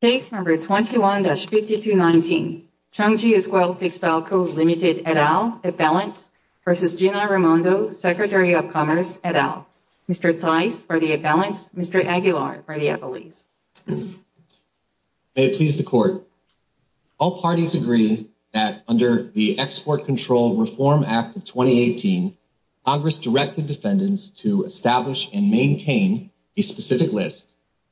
Case No. 21-5219, Chungji Esquel Textile Co. Ltd. et al., at balance, v. Gina Raimondo, Secretary of Commerce et al., Mr. Tice for the at balance, Mr. Aguilar for the at release. May it please the Court. All parties agree that under the Export Control Reform Act of 2018, Congress directed defendants to establish and maintain a specific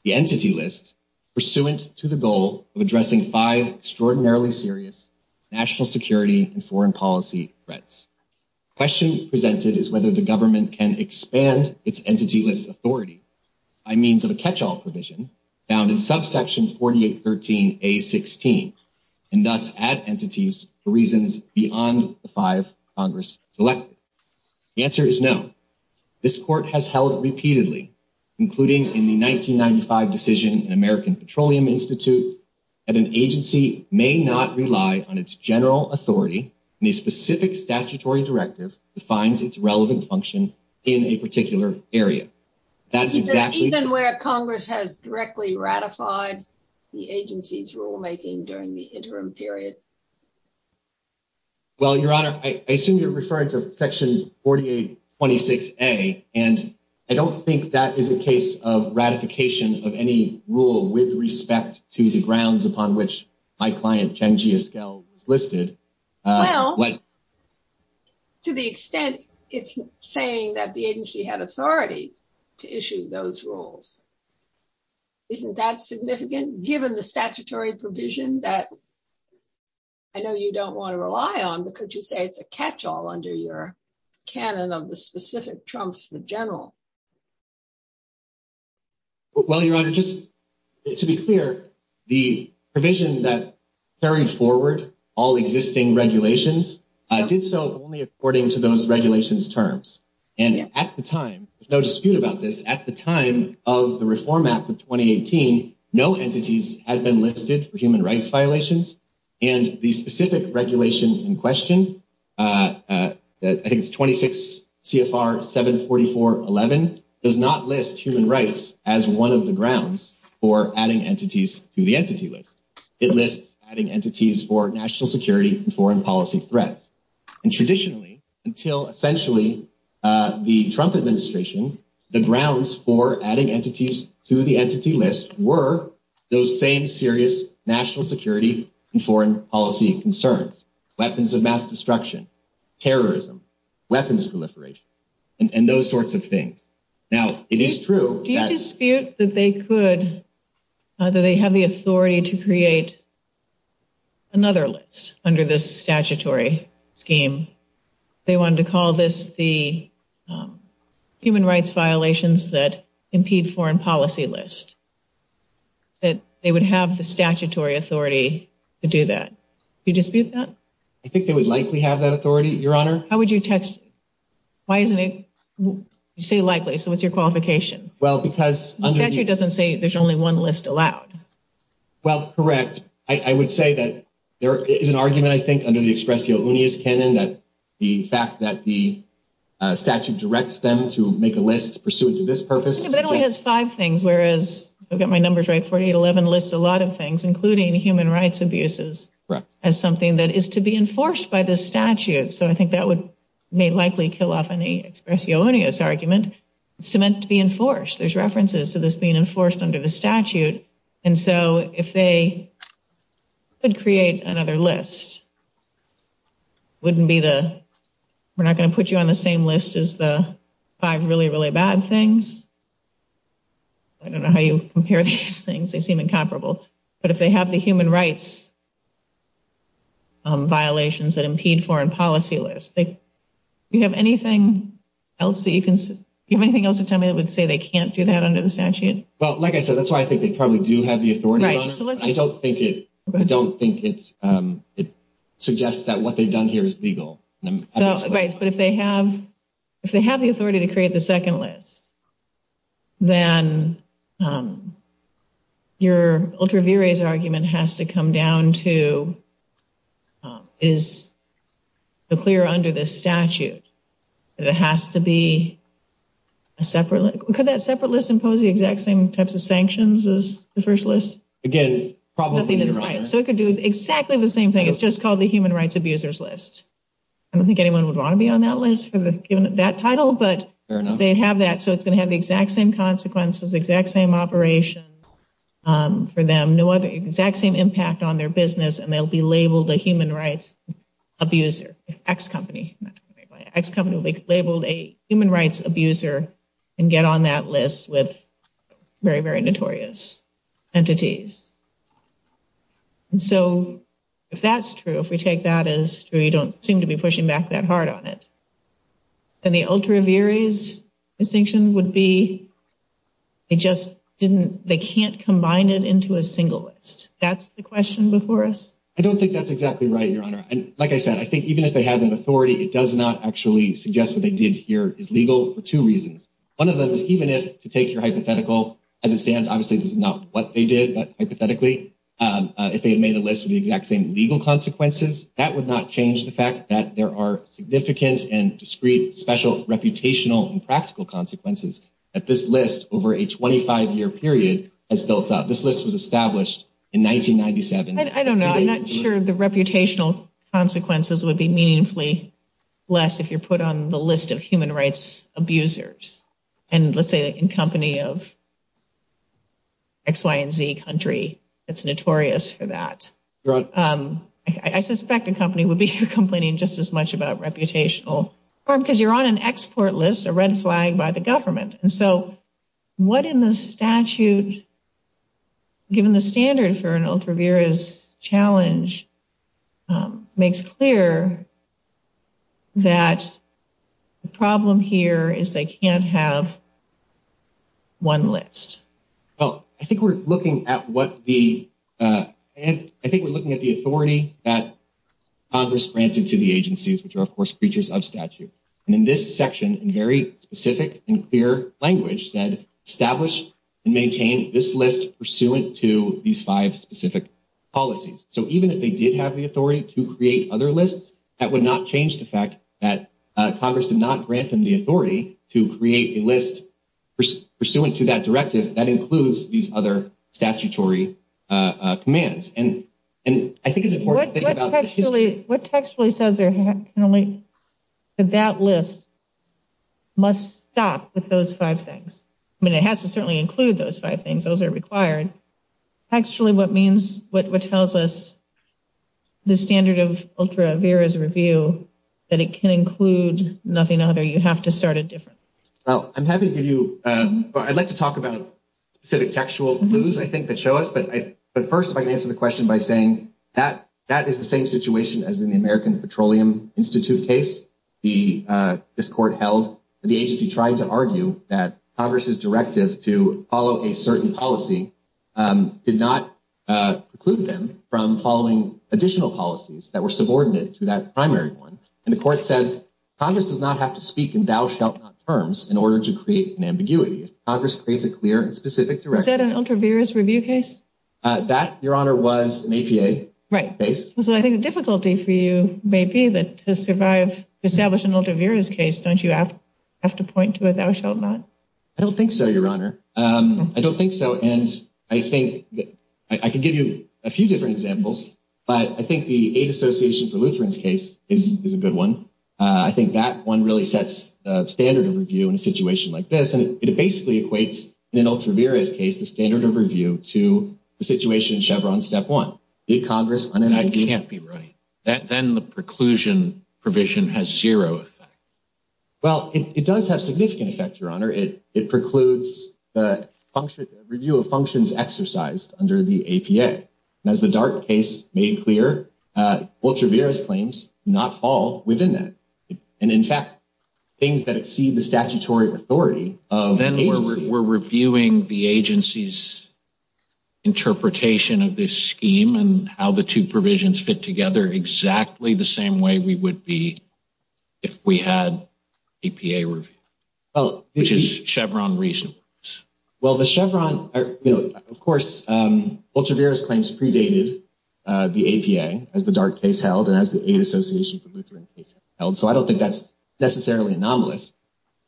entity list pursuant to the goal of addressing five extraordinarily serious national security and foreign policy threats. The question presented is whether the government can expand its entity list authority by means of a catch-all provision found in subsection 4813A.16 and thus add entities for reasons beyond the five Congress selected. The answer is no. This Court has held repeatedly, including in the 1995 decision in American Petroleum Institute, that an agency may not rely on its general authority in a specific statutory directive that finds its relevant function in a particular area. That's exactly... Is there even where Congress has directly ratified the agency's rulemaking during the interim period? Well, Your Honor, I assume you're referring to section 4826A, and I don't think that is a case of ratification of any rule with respect to the grounds upon which my client, Changi Esquil, was listed. Well, to the extent it's saying that the agency had authority to issue those rules, isn't that significant? Given the statutory provision that I know you don't want to rely on, but could you say it's a catch-all under your canon of the specific trumps the general? Well, Your Honor, just to be clear, the provision that carried forward all existing regulations did so only according to those regulations terms. And at the time, there's no dispute about this, at the time of the Reform Act of 2018, no entities had been listed for human rights violations, and the specific regulation in question, I think it's 26 CFR 74411, does not list human rights as one of the grounds for adding entities to the entity list. It lists adding entities for national security and foreign policy threats. And traditionally, until essentially the Trump administration, the grounds for adding entities to the entity list were those same serious national security and foreign policy concerns, weapons of mass destruction, terrorism, weapons proliferation, and those sorts of things. Now, it is true that... Do you dispute that they could, that they have the authority to create another list under this statutory scheme? They wanted to call this the human rights violations that impede foreign policy list, that they would have the statutory authority to do that. Do you dispute that? I think they would likely have that authority, Your Honor. How would you text... Why isn't it... You say likely, so what's your qualification? Well, because... The statute doesn't say there's only one list allowed. Well, correct. I would say that there is an argument, I think, under the expressio unius canon that the fact that the statute directs them to make a list pursuant to this purpose... Whereas, I've got my numbers right, 4811 lists a lot of things, including human rights abuses, as something that is to be enforced by this statute. So I think that would make likely kill off any expressio unius argument. It's meant to be enforced. There's references to this being enforced under the statute. And so if they could create another list, wouldn't be the... We're not going to put you on the same list as the five really, really bad things. I don't know how you compare these things. They seem incomparable. But if they have the human rights violations that impede foreign policy lists, do you have anything else that you can... Do you have anything else to tell me that would say they can't do that under the statute? Well, like I said, that's why I think they probably do have the authority. Right. So let's... I don't think it suggests that what they've done here is legal. But if they have the authority to create the second list, then your ultra vires argument has to come down to, is it clear under this statute that it has to be a separate... Could that separate list impose the exact same types of sanctions as the first list? Again, probably not. So it could do exactly the same thing. It's just called the human rights abusers list. I don't think anyone would want to be on that list for that title, but they'd have that. So it's going to have the exact same consequences, exact same operation for them. No other exact same impact on their business. And they'll be labeled a human rights abuser, X company. X company will be labeled a human rights abuser and get on that list with very, very notorious entities. And so if that's true, if we take that as true, you don't seem to be pushing back that hard on it. And the ultra vires distinction would be, it just didn't... They can't combine it into a single list. That's the question before us? I don't think that's exactly right, Your Honor. And like I said, I think even if they have that authority, it does not actually suggest what they did here is legal for two reasons. One of them is to take your hypothetical as it stands, obviously this is not what they did, but hypothetically, if they had made a list of the exact same legal consequences, that would not change the fact that there are significant and discrete special reputational and practical consequences that this list over a 25 year period has built up. This list was established in 1997. I don't know. I'm not sure the reputational consequences would be meaningfully less if put on the list of human rights abusers. And let's say in company of X, Y, and Z country, it's notorious for that. I suspect a company would be complaining just as much about reputational harm because you're on an export list, a red flag by the government. And so what in the statute, given the standard for an ultraviarious challenge, makes clear that the problem here is they can't have one list. Well, I think we're looking at what the, and I think we're looking at the authority that Congress granted to the agencies, which are of course creatures of statute. And in this section, in very specific and clear language said, establish and maintain this list pursuant to these five specific policies. So even if they did have the authority to create other lists, that would not change the fact that Congress did not grant them the authority to create a list pursuant to that directive that includes these other statutory commands. And I think it's important to think about the history. What textually says that that list must stop with those five things? I mean, it has to certainly include those five things. Those are required. Actually, what means, what tells us the standard of ultraviarious review, that it can include nothing other. You have to start it differently. Well, I'm happy to give you, I'd like to talk about specific textual clues, I think that show us, but first if I can answer the question by saying that that is the same situation as in the American Petroleum Institute case, this court held, the agency tried to argue that Congress's directive to follow a certain policy did not preclude them from following additional policies that were subordinate to that primary one. And the court said, Congress does not have to speak in thou shalt not terms in order to create an ambiguity. Congress creates a clear and specific direction. Was that an ultraviarious review case? That, Your Honor, was an APA case. Right. So I think the difficulty for you may be that to survive, establish an ultraviarious case, don't you have to point to a thou shalt not? I don't think so, Your Honor. I don't think so. And I think I could give you a few different examples, but I think the Aid Association for Lutheran's case is a good one. I think that one really sets a standard of review in a situation like this. And it basically equates in an standard of review to the situation in Chevron step one. Congress can't be right. That then the preclusion provision has zero effect. Well, it does have significant effect, Your Honor. It precludes the review of functions exercised under the APA. And as the Dart case made clear, ultraviarious claims not fall within that. And in fact, things that exceed the statutory authority of the agency. Then we're reviewing the agency's interpretation of this scheme and how the two provisions fit together exactly the same way we would be if we had APA review, which is Chevron reason. Well, the Chevron, of course, ultraviarious claims predated the APA as the Dart case held and as the Aid Association for Lutheran case held. So I don't think that's necessarily anomalous.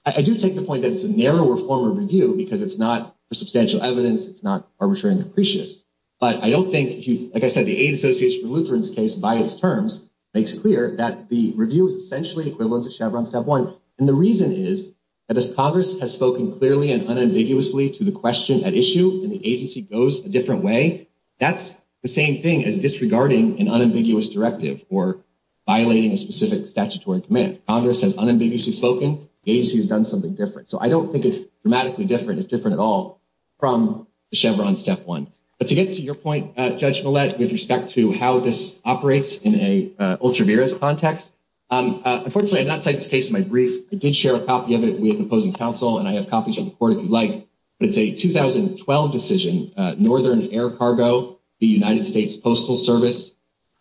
I do take the point that it's a narrower form of review because it's not for substantial evidence. It's not arbitrary and capricious. But I don't think, like I said, the Aid Association for Lutheran's case by its terms makes clear that the review is essentially equivalent to Chevron step one. And the reason is that if Congress has spoken clearly and unambiguously to the question at issue and the agency goes a different way, that's the same thing as disregarding an unambiguous directive or violating a specific statutory command. Congress has unambiguously spoken. The agency has done something different. So I don't think it's dramatically different. It's different at all from the Chevron step one. But to get to your point, Judge Millett, with respect to how this operates in a ultraviarious context, unfortunately, I did not cite this case in my brief. I did share a copy of it with opposing counsel, and I have copies on the court if you'd like. But it's a 2012 decision, Northern Air Cargo, the United States Postal Service.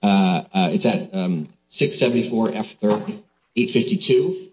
It's at 674 F 3852.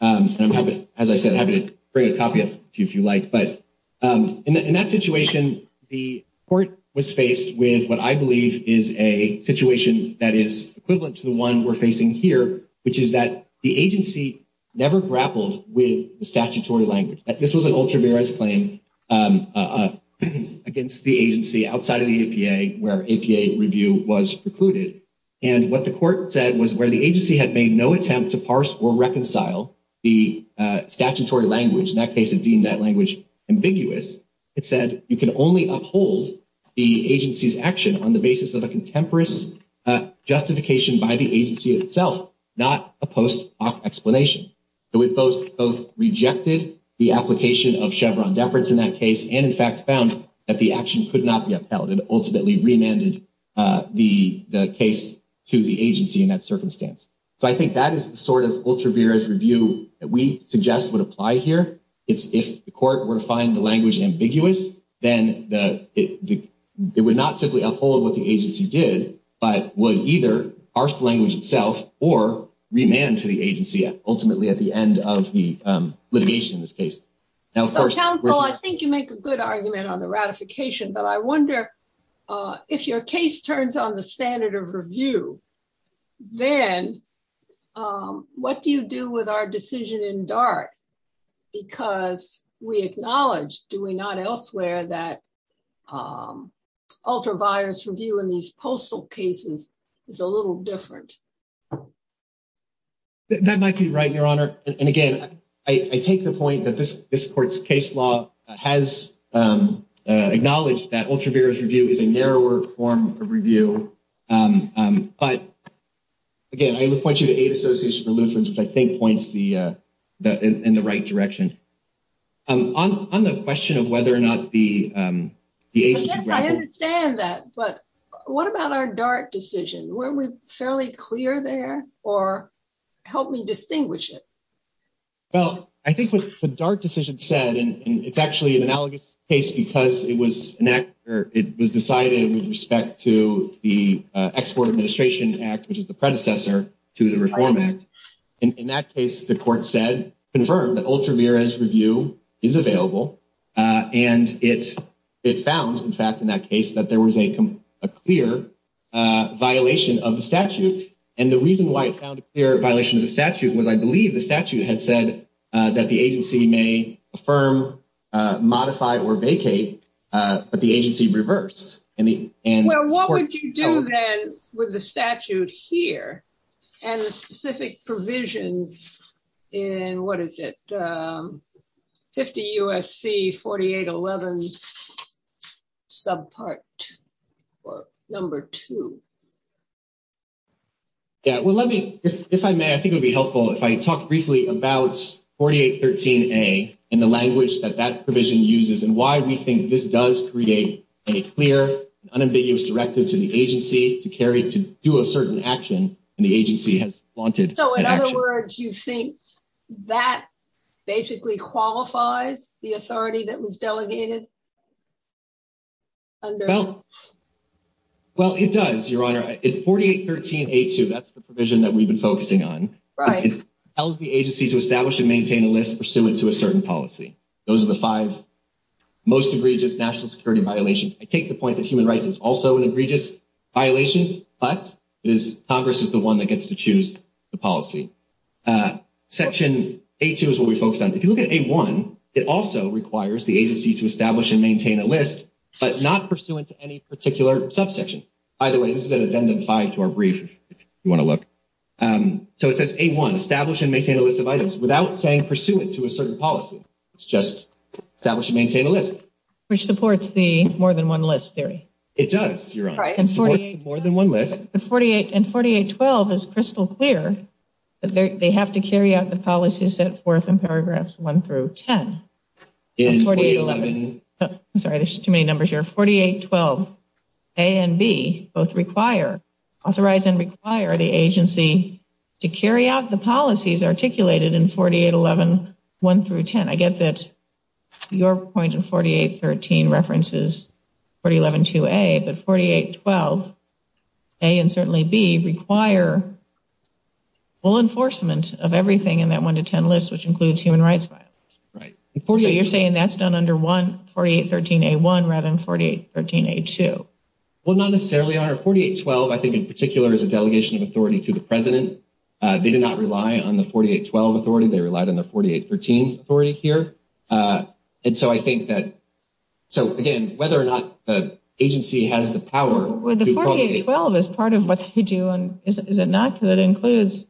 And as I said, I'm happy to bring a copy up to you if you like. But in that situation, the court was faced with what I believe is a situation that is equivalent to the one we're facing here, which is that the agency never grappled with the statutory language. This was an ultraviarious claim against the agency outside of the APA where APA review was precluded. And what the court said was where the agency had made no attempt to parse or reconcile the statutory language. In that case, it deemed that language ambiguous. It said you can only uphold the agency's action on the basis of a contemporary justification by the agency itself, not a post hoc explanation. So it both rejected the application of Chevron deference in that case, and in fact, found that the action could not be upheld and ultimately remanded the case to the agency in that circumstance. So I think that is the sort of ultraviarious review that we suggest would apply here. It's if the court were to find the language ambiguous, then it would not simply uphold what the agency did, but would either parse the language itself or remand to the agency ultimately at the end of litigation in this case. Now, of course, I think you make a good argument on the ratification, but I wonder if your case turns on the standard of review, then what do you do with our decision in DART? Because we acknowledge, do we not elsewhere that ultraviarious review in these I take the point that this court's case law has acknowledged that ultraviarious review is a narrower form of review. But again, I would point you to Aid Association for Lutherans, which I think points in the right direction. On the question of whether or not the agency- Yes, I understand that, but what about our DART decision? Weren't we fairly clear there or help me distinguish it? Well, I think what the DART decision said, and it's actually an analogous case because it was decided with respect to the Export Administration Act, which is the predecessor to the Reform Act. In that case, the court said, confirmed that ultraviarious review is available. And it found, in fact, in that case that there was a clear violation of the statute. And the reason why it found a clear violation of the statute was, I believe the statute had said that the agency may affirm, modify, or vacate, but the agency reversed. Well, what would you do then with the statute here and the specific to? Yeah, well, let me, if I may, I think it would be helpful if I talk briefly about 4813A and the language that that provision uses and why we think this does create a clear, unambiguous directive to the agency to carry to do a certain action and the agency has wanted- So, in other words, you think that basically qualifies the authority that was delegated under- Well, it does, Your Honor. 4813A2, that's the provision that we've been focusing on. Right. It tells the agency to establish and maintain a list pursuant to a certain policy. Those are the five most egregious national security violations. I take the point that human rights is also an egregious violation, but Congress is the one that gets to choose the policy. Section A2 is what we focus on. If you look at A1, it also requires the agency to establish and maintain a list, but not pursuant to any particular subsection. Either way, this is an addendum to our brief, if you want to look. So, it says A1, establish and maintain a list of items without saying pursuant to a certain policy. It's just establish and maintain a list. Which supports the more than one list theory. It does, Your Honor. It supports the more than one list. And 4812 is crystal clear that they have to carry out the policies set forth in I'm sorry, there's too many numbers here. 4812A and B both require, authorize and require the agency to carry out the policies articulated in 48111 through 10. I get that your point in 4813 references 4112A, but 4812A and certainly B require full enforcement of everything in that list, which includes human rights violations. You're saying that's done under 4813A1 rather than 4813A2. Well, not necessarily, Your Honor. 4812, I think in particular, is a delegation of authority to the President. They did not rely on the 4812 authority. They relied on the 4813 authority here. And so I think that, so again, whether or not the agency has the power to not, that includes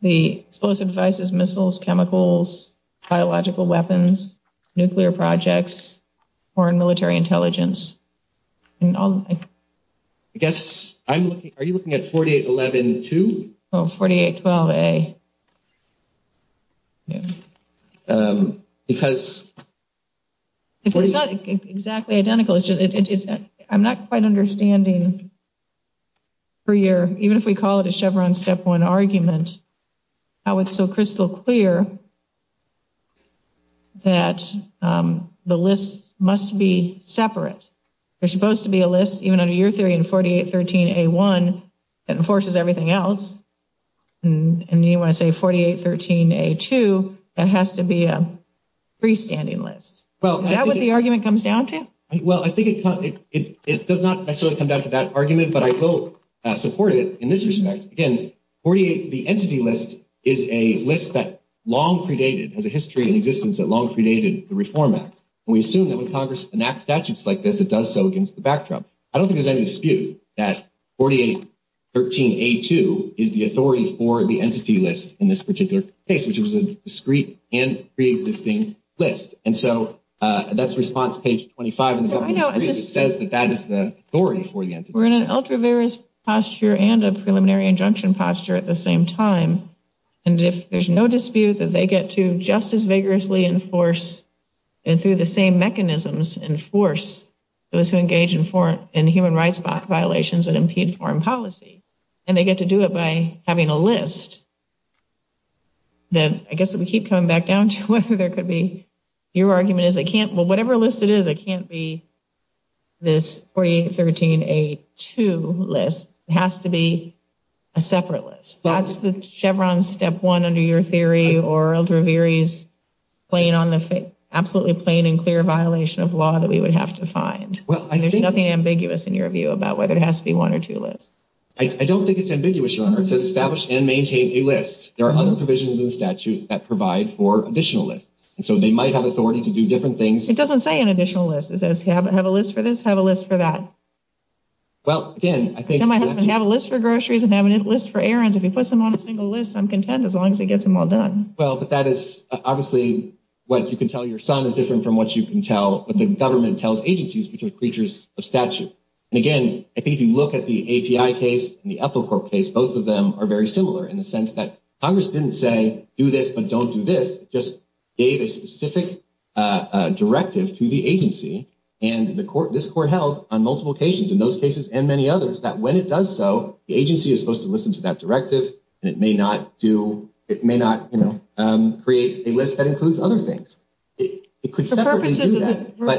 the explosive devices, missiles, chemicals, biological weapons, nuclear projects, foreign military intelligence. I guess I'm looking, are you looking at 48112? Oh, 4812A. Because. It's not exactly identical. It's just, I'm not quite understanding per year, even if we call it a Chevron step one argument, how it's so crystal clear that the list must be separate. There's supposed to be a list, even under your theory in 4813A1 that enforces everything else. And you want to say 4813A2, that has to be a freestanding list. Well, is that what the argument comes down to? Well, I think it does not necessarily come down to that argument, but I will support it in this respect. Again, 48, the entity list is a list that long predated, has a history and existence that long predated the Reform Act. And we assume that when Congress enacts statutes like this, it does so against the backdrop. I don't think there's any dispute that 4813A2 is the authority for the entity list in this particular case, which was a discreet and pre-existing list. And so that's response page 25 says that that is the authority for the entity. We're in an ultra various posture and a preliminary injunction posture at the same time. And if there's no dispute that they get to just as vigorously enforce and through the same mechanisms, enforce those who engage in human rights violations that impede foreign policy, and they get to do it by having a list. Then I guess we keep coming back down to whether there could be, your argument is it can't, well, whatever list it is, it can't be this 4813A2 list. It has to be a separate list. That's the Chevron step one under your theory or ultra various playing on the absolutely plain and clear violation of law that we would have to find. There's nothing ambiguous in your view about whether it has to be one or two lists. I don't think it's ambiguous, your honor. It says establish and maintain a list. There are other provisions in the statute that provide for additional lists. And so they might have authority to do different things. It doesn't say an additional list. It says have a list for this, have a list for that. Well, again, I think- Tell my husband to have a list for groceries and have a list for errands. If he puts them on a single list, I'm content as long as he gets them all done. Well, but that is obviously what you can tell your son is different from what you can tell, what the government tells agencies, which are creatures of statute. And again, I think if you look at the API case and the Ethel Corp case, both of them are very similar in the sense that Congress didn't say do this, but don't do this, just gave a specific directive to the agency. And this court held on multiple occasions in those cases and many others that when it does so, the agency is supposed to listen to that directive and it may not do, it may not create a list that includes other things. It could separately do that, but-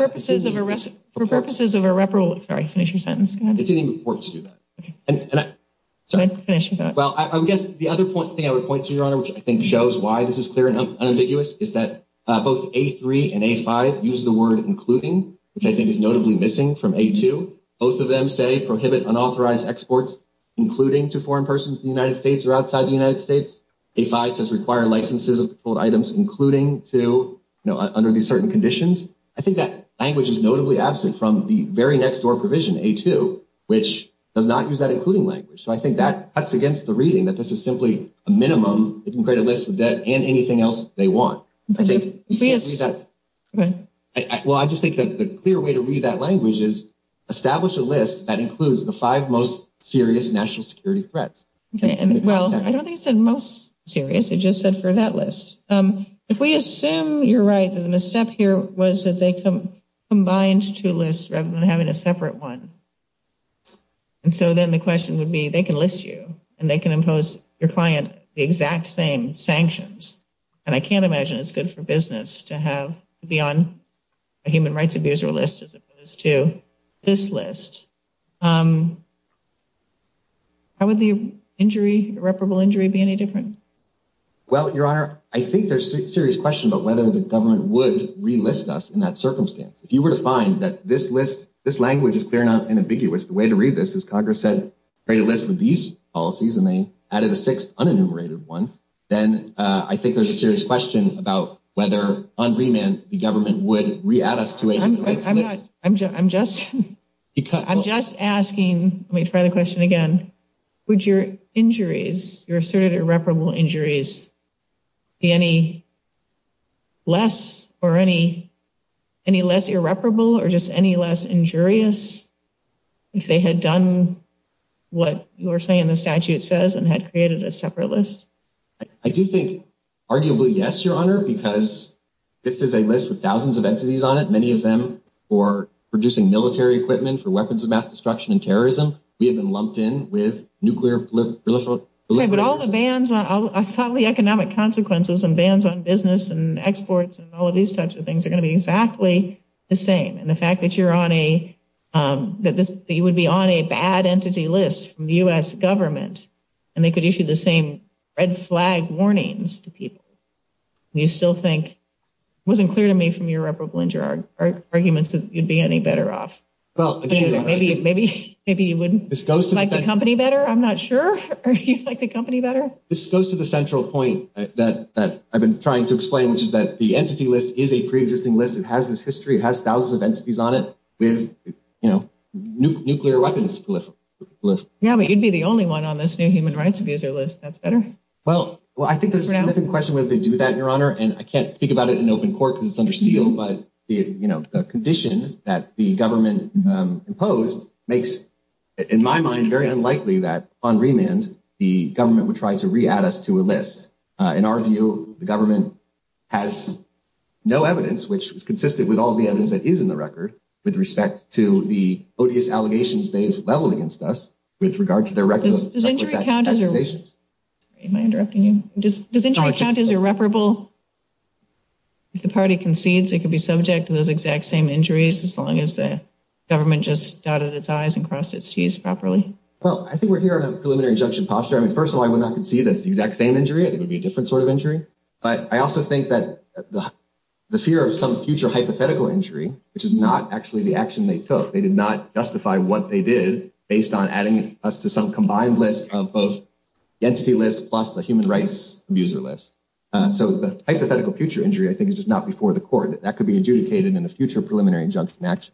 For purposes of a reparable, sorry, finish your sentence. It didn't even work to do that. Can I finish with that? Well, I guess the other thing I would point to, your honor, which I think shows why this is clear and unambiguous is that both A3 and A5 use the word including, which I think is notably missing from A2. Both of them say prohibit unauthorized exports, including to foreign persons in the United States or outside the United States. A5 says require licenses of items, including to, you know, under these certain conditions. I think that language is notably absent from the very next door provision A2, which does not use that including language. So I think that cuts against the reading that this is simply a minimum. It can create a list and anything else they want. Well, I just think that the clear way to read that language is establish a list that includes the five most serious national security threats. Okay. And well, I don't think it said most serious. It just said for that list. If we assume you're right, then the step here was that they combined two lists rather than having a separate one. And so then the question would be, they can list you and they can impose your client the exact same sanctions. And I can't imagine it's good for business to have to be on a human rights abuser list as opposed to this list. How would the injury, irreparable injury be any different? Well, Your Honor, I think there's serious question about whether the government would relist us in that circumstance. If you were to find that this list, this language is clear enough and ambiguous. The way to read this is Congress said, create a list with these policies and they added a sixth unenumerated one. Then I think there's a serious question about whether on remand, the government would re-add us to it. I'm just asking, let me try the question again. Would your injuries, your asserted irreparable injuries be any less or any less irreparable or just any less injurious if they had done what you're saying the statute says and had created a separate list? I do think arguably yes, Your Honor, because this is a list with thousands of entities on it. Many of them for producing military equipment for weapons of mass destruction and terrorism. We have been lumped in with nuclear proliferation. Okay, but all the bans, all the economic consequences and bans on business and exports and all of these types of things are going to be exactly the same. The fact that you would be on a bad entity list from the U.S. government and they could issue the same red flag warnings to people, you still think, it wasn't clear to me from your irreparable injury arguments that you'd be any better off. Maybe you wouldn't like the company better, I'm not sure, or you'd like the company better? This goes to the central point that I've been trying to explain, which is that the entity list is a pre-existing list. It has this history, it has thousands of entities on it with nuclear weapons proliferation. Yeah, but you'd be the only one on this new human rights abuser list, that's better. Well, I think there's a significant question whether they do that, Your Honor, and I can't speak about it in open court because it's under seal, but the condition that the government imposed makes, in my mind, very unlikely that on remand the government would try to re-add us to a list. In our view, the government has no evidence, which is consistent with all the evidence that is in the record with respect to the odious allegations they've leveled against us with regard to their reckless accusations. Am I interrupting you? Does injury count as irreparable? If the party concedes, it could be subject to those exact same injuries as long as the government just dotted its I's and crossed its T's properly. Well, I think we're here on a preliminary injunction posture. I mean, first of all, that's the exact same injury. I think it would be a different sort of injury, but I also think that the fear of some future hypothetical injury, which is not actually the action they took, they did not justify what they did based on adding us to some combined list of both the entity list plus the human rights abuser list. So the hypothetical future injury, I think, is just not before the court. That could be adjudicated in a future preliminary injunction action.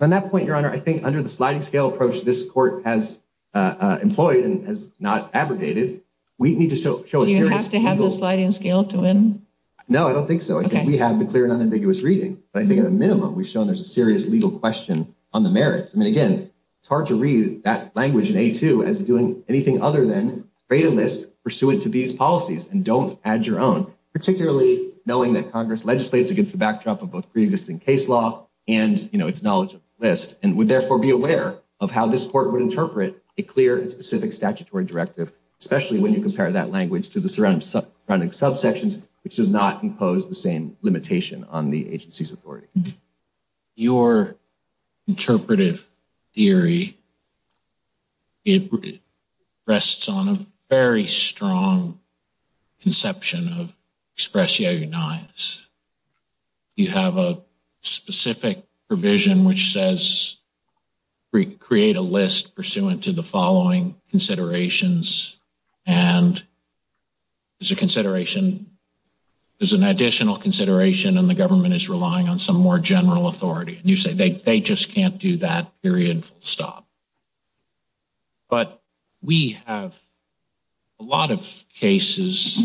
On that point, Your Honor, I think under the sliding scale approach this court has not abrogated. We need to show a serious angle. Do you have to have the sliding scale to win? No, I don't think so. I think we have the clear and unambiguous reading, but I think at a minimum we've shown there's a serious legal question on the merits. I mean, again, it's hard to read that language in A2 as doing anything other than create a list pursuant to these policies and don't add your own, particularly knowing that Congress legislates against the backdrop of both pre-existing case law and its knowledge of the list and would therefore be aware of how this court would interpret a clear and specific statutory directive, especially when you compare that language to the surrounding subsections, which does not impose the same limitation on the agency's authority. Your interpretive theory, it rests on a very strong conception of express, yeah, you're nice. You have a specific provision which says create a list pursuant to the following considerations and there's a consideration, there's an additional consideration and the government is relying on some more general authority. And you say they just can't do that period full stop. But we have a lot of cases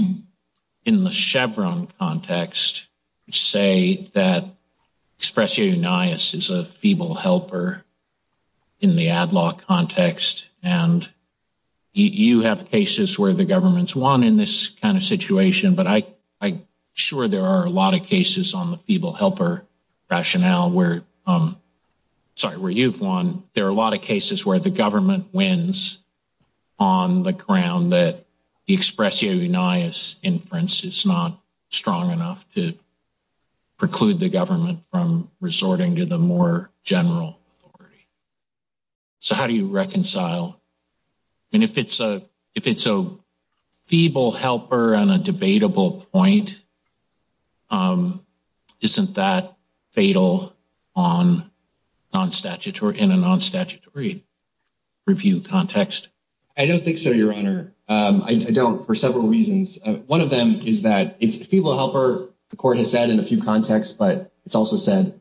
in the Chevron context, say that expression is a feeble helper in the ad law context. And you have cases where the government's won in this kind of situation, but I'm sure there are a lot of cases on the feeble helper rationale where, sorry, you've won. There are a lot of cases where the government wins on the ground that the expressio unias inference is not strong enough to preclude the government from resorting to the more general authority. So how do you reconcile? And if it's a feeble helper on a debatable point, isn't that fatal in a non-statutory review context? I don't think so, Your Honor. I don't for several reasons. One of them is that it's a feeble helper, the court has said in a few contexts, but it's also said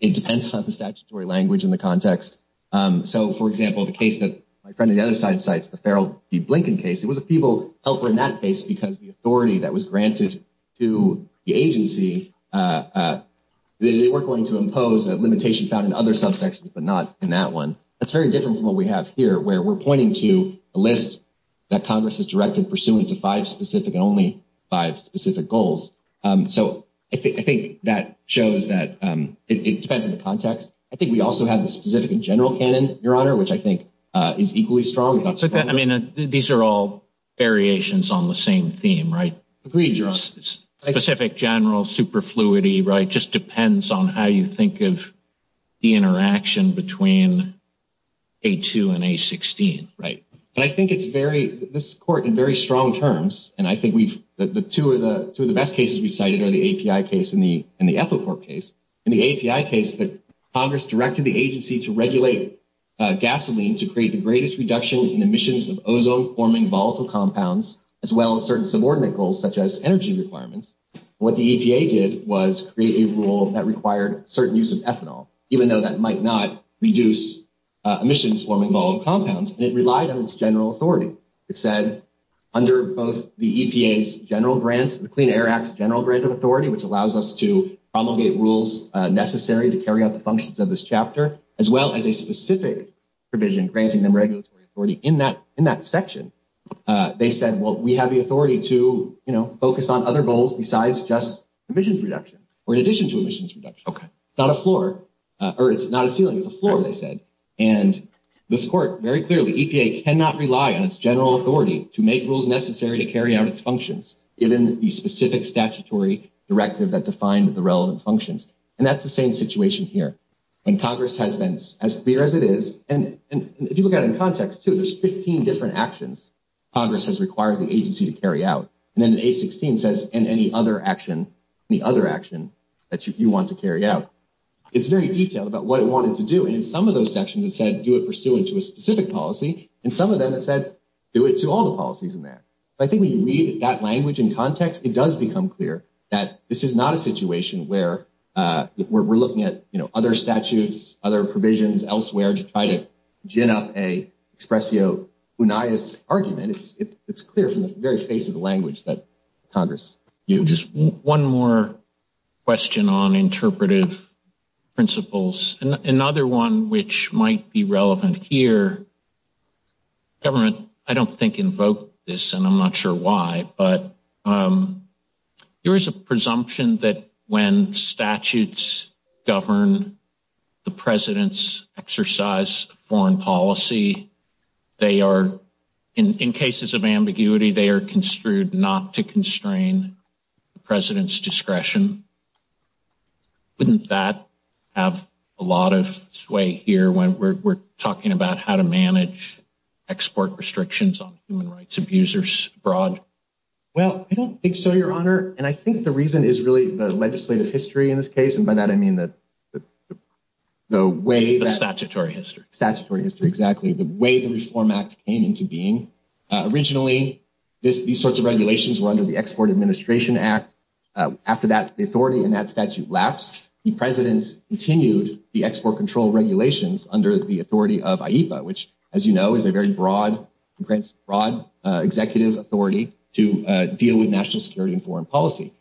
it depends on the statutory language in the context. So, for example, the case that my friend on the other side cites, the Farrell v. Blinken case, it was a feeble helper in that case because the authority that was granted to the agency, they were going to impose a limitation found in other subsections, but not in that one. That's very different from what we have here, where we're pointing to a list that Congress has directed pursuant to five specific and only five specific goals. So I think that shows that it depends on the context. I think we also have the specific and general canon, Your Honor, which I think is equally strong. I mean, these are all variations on the same theme, right? Agreed, Your Honor. Specific, general, superfluity, right? Just depends on how you think of the interaction between A2 and A16, right? And I think it's very, this court in very strong terms, and I think the two of the best cases we've cited are the API case and the Ethelcorp case. In the API case, Congress directed the agency to emissions of ozone-forming volatile compounds, as well as certain subordinate goals, such as energy requirements. What the EPA did was create a rule that required certain use of ethanol, even though that might not reduce emissions-forming volatile compounds, and it relied on its general authority. It said under both the EPA's general grant, the Clean Air Act's general grant of authority, which allows us to promulgate rules necessary to carry out the functions of this section. They said, well, we have the authority to, you know, focus on other goals besides just emissions reduction, or in addition to emissions reduction. It's not a floor, or it's not a ceiling, it's a floor, they said. And this court very clearly, EPA cannot rely on its general authority to make rules necessary to carry out its functions, given the specific statutory directive that defined the relevant functions. And that's the same situation here. When Congress has been as clear as it is, and if you look at it in context, too, there's 15 different actions Congress has required the agency to carry out. And then the A-16 says, and any other action, any other action that you want to carry out. It's very detailed about what it wanted to do, and in some of those sections, it said, do it pursuant to a specific policy, and some of them, it said, do it to all the policies in there. I think when you read that language in context, it does become clear that this is not a situation where we're looking at, you know, other statutes, other provisions elsewhere, to try to gin up a expressio unias argument. It's clear from the very face of the language that Congress. Just one more question on interpretive principles, and another one which might be relevant here. Government, I don't think, invoked this, and I'm not sure why, but there is a presumption that when statutes govern the President's exercise of foreign policy, they are, in cases of ambiguity, they are construed not to constrain the President's discretion. Wouldn't that have a lot of sway here when we're talking about how to manage export restrictions on human rights abusers abroad? Well, I don't think so, Your Honor, and I think the reason is really the legislative history in this case, and by that, I mean the way that. The statutory history. Statutory history, exactly, the way the Reform Act came into being. Originally, these sorts of regulations were under the Export Administration Act. After that, the authority in that statute lapsed. The President continued the export control regulations under the authority of IEPA, which, as you know, is a very broad, broad executive authority to deal with national security and foreign policy.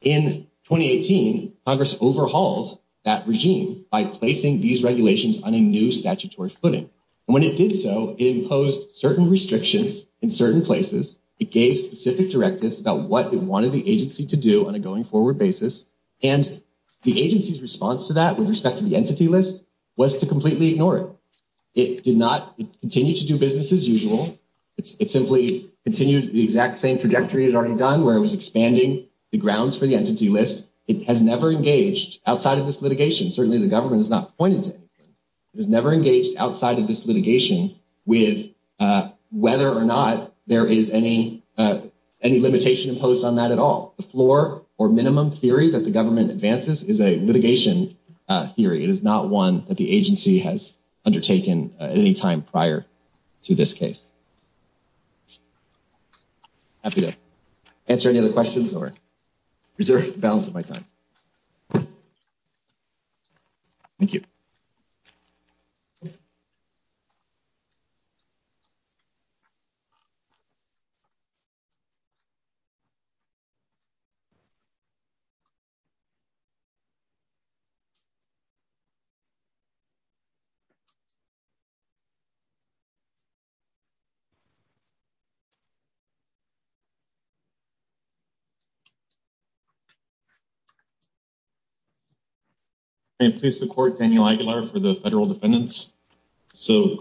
In 2018, Congress overhauled that regime by placing these regulations on a new statutory footing, and when it did so, it imposed certain restrictions in certain places. It gave specific directives about what it wanted the agency to do on a going-forward basis, and the agency's response to that with respect to the entity list was to completely ignore it. It did not continue to do business as usual. It simply continued the exact same trajectory it had already done, where it was expanding the grounds for the entity list. It has never engaged outside of this litigation. Certainly, the government has not pointed to anything. It has never engaged outside of this litigation with whether or not there is any limitation imposed on that at all. The floor or minimum theory that the government advances is a litigation theory. It is not one that the agency has undertaken at any time prior to this case. Happy to answer any other questions or preserve the balance of my time. Thank you. I am pleased to report Daniel Aguilar for the Federal Defendants.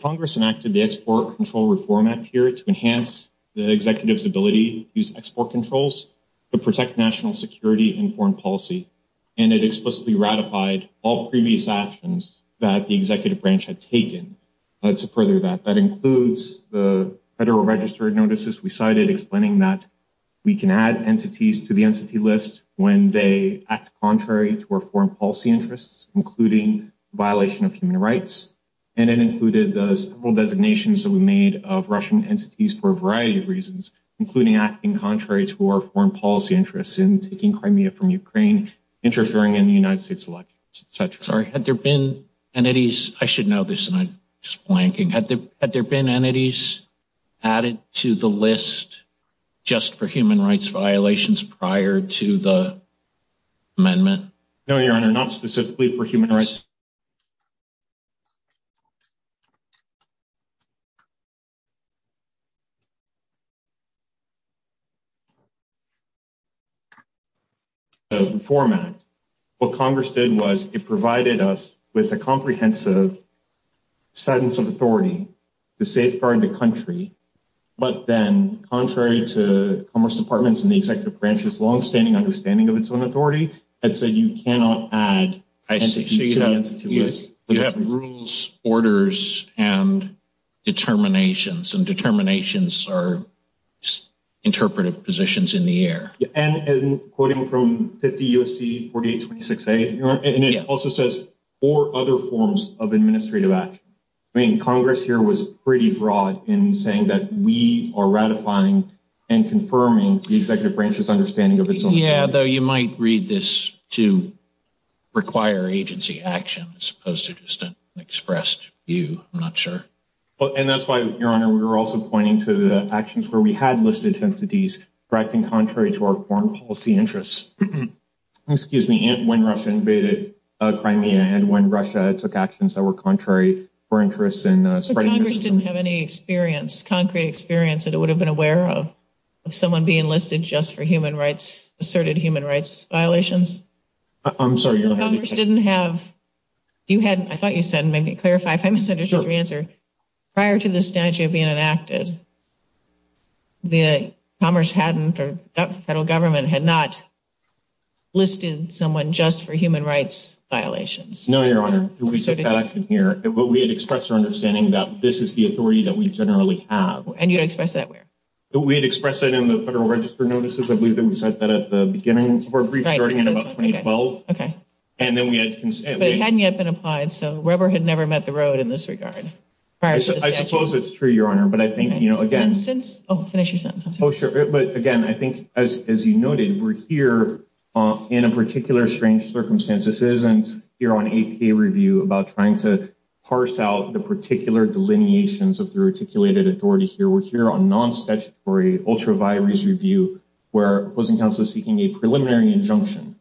Congress enacted the Export Control Reform Act here to enhance the executive's ability to use export controls to protect national security and foreign policy. It explicitly ratified all previous actions that the executive branch had taken to further that. That includes the Federal Registered Notices we cited explaining that we can add entities to the entity list when they act contrary to our foreign policy interests, including violation of human rights. It included the several designations that we made of Russian entities for a variety of reasons, including acting contrary to our foreign policy interests and taking Crimea from Ukraine, interfering in the United States elections, etc. Sorry, had there been entities, I should know this and I'm just blanking, had there been entities added to the list just for human rights violations prior to the amendment? No, Your Honor, not specifically for human rights. The Export Control Reform Act, what Congress did was it provided us with a comprehensive sense of authority to safeguard the country, but then contrary to Commerce Department's and the executive branch's longstanding understanding of its own authority, it said you cannot add entities to the entity list. I see. You have rules, orders, and determinations, and determinations are interpretive positions in the air. And quoting from 50 U.S.C. 4826A, and it also says four other forms of administrative action. I mean, Congress here was pretty broad in saying that we are ratifying and confirming the executive branch's understanding of its own authority. Yeah, though you might read this to require agency action as opposed to just an expressed view. I'm not sure. And that's why, Your Honor, we were also pointing to the actions where we had listed entities acting contrary to our foreign policy interests. Excuse me, when Russia invaded Crimea and when Russia took actions that were contrary for interests in spreading mischief. But Congress didn't have any experience, concrete experience, that it would have been aware of, of someone being listed just for human rights, asserted human rights violations? I'm sorry, Your Honor. Commerce didn't have, you had, I thought you said, maybe clarify if I misunderstood your answer. Prior to the statute being enacted, the Commerce hadn't, or the federal government had not listed someone just for human rights violations. No, Your Honor, we took that action here, but we had expressed our understanding that this is the authority that we generally have. And you expressed that where? We had expressed it in the federal register notices. I believe that we said that at the beginning of our brief, starting in about 2012. Okay. And then we had consent. But it hadn't yet been applied, so rubber had never met the road in this regard. I suppose it's true, Your Honor. But I think, you know, again, And since, oh, finish your sentence, I'm sorry. Oh, sure. But again, I think, as you noted, we're here in a particular strange circumstance. This isn't here on APA review about trying to parse out the particular delineations of the articulated authority here. We're here on non-statutory ultra vires review, where opposing counsel is seeking a preliminary injunction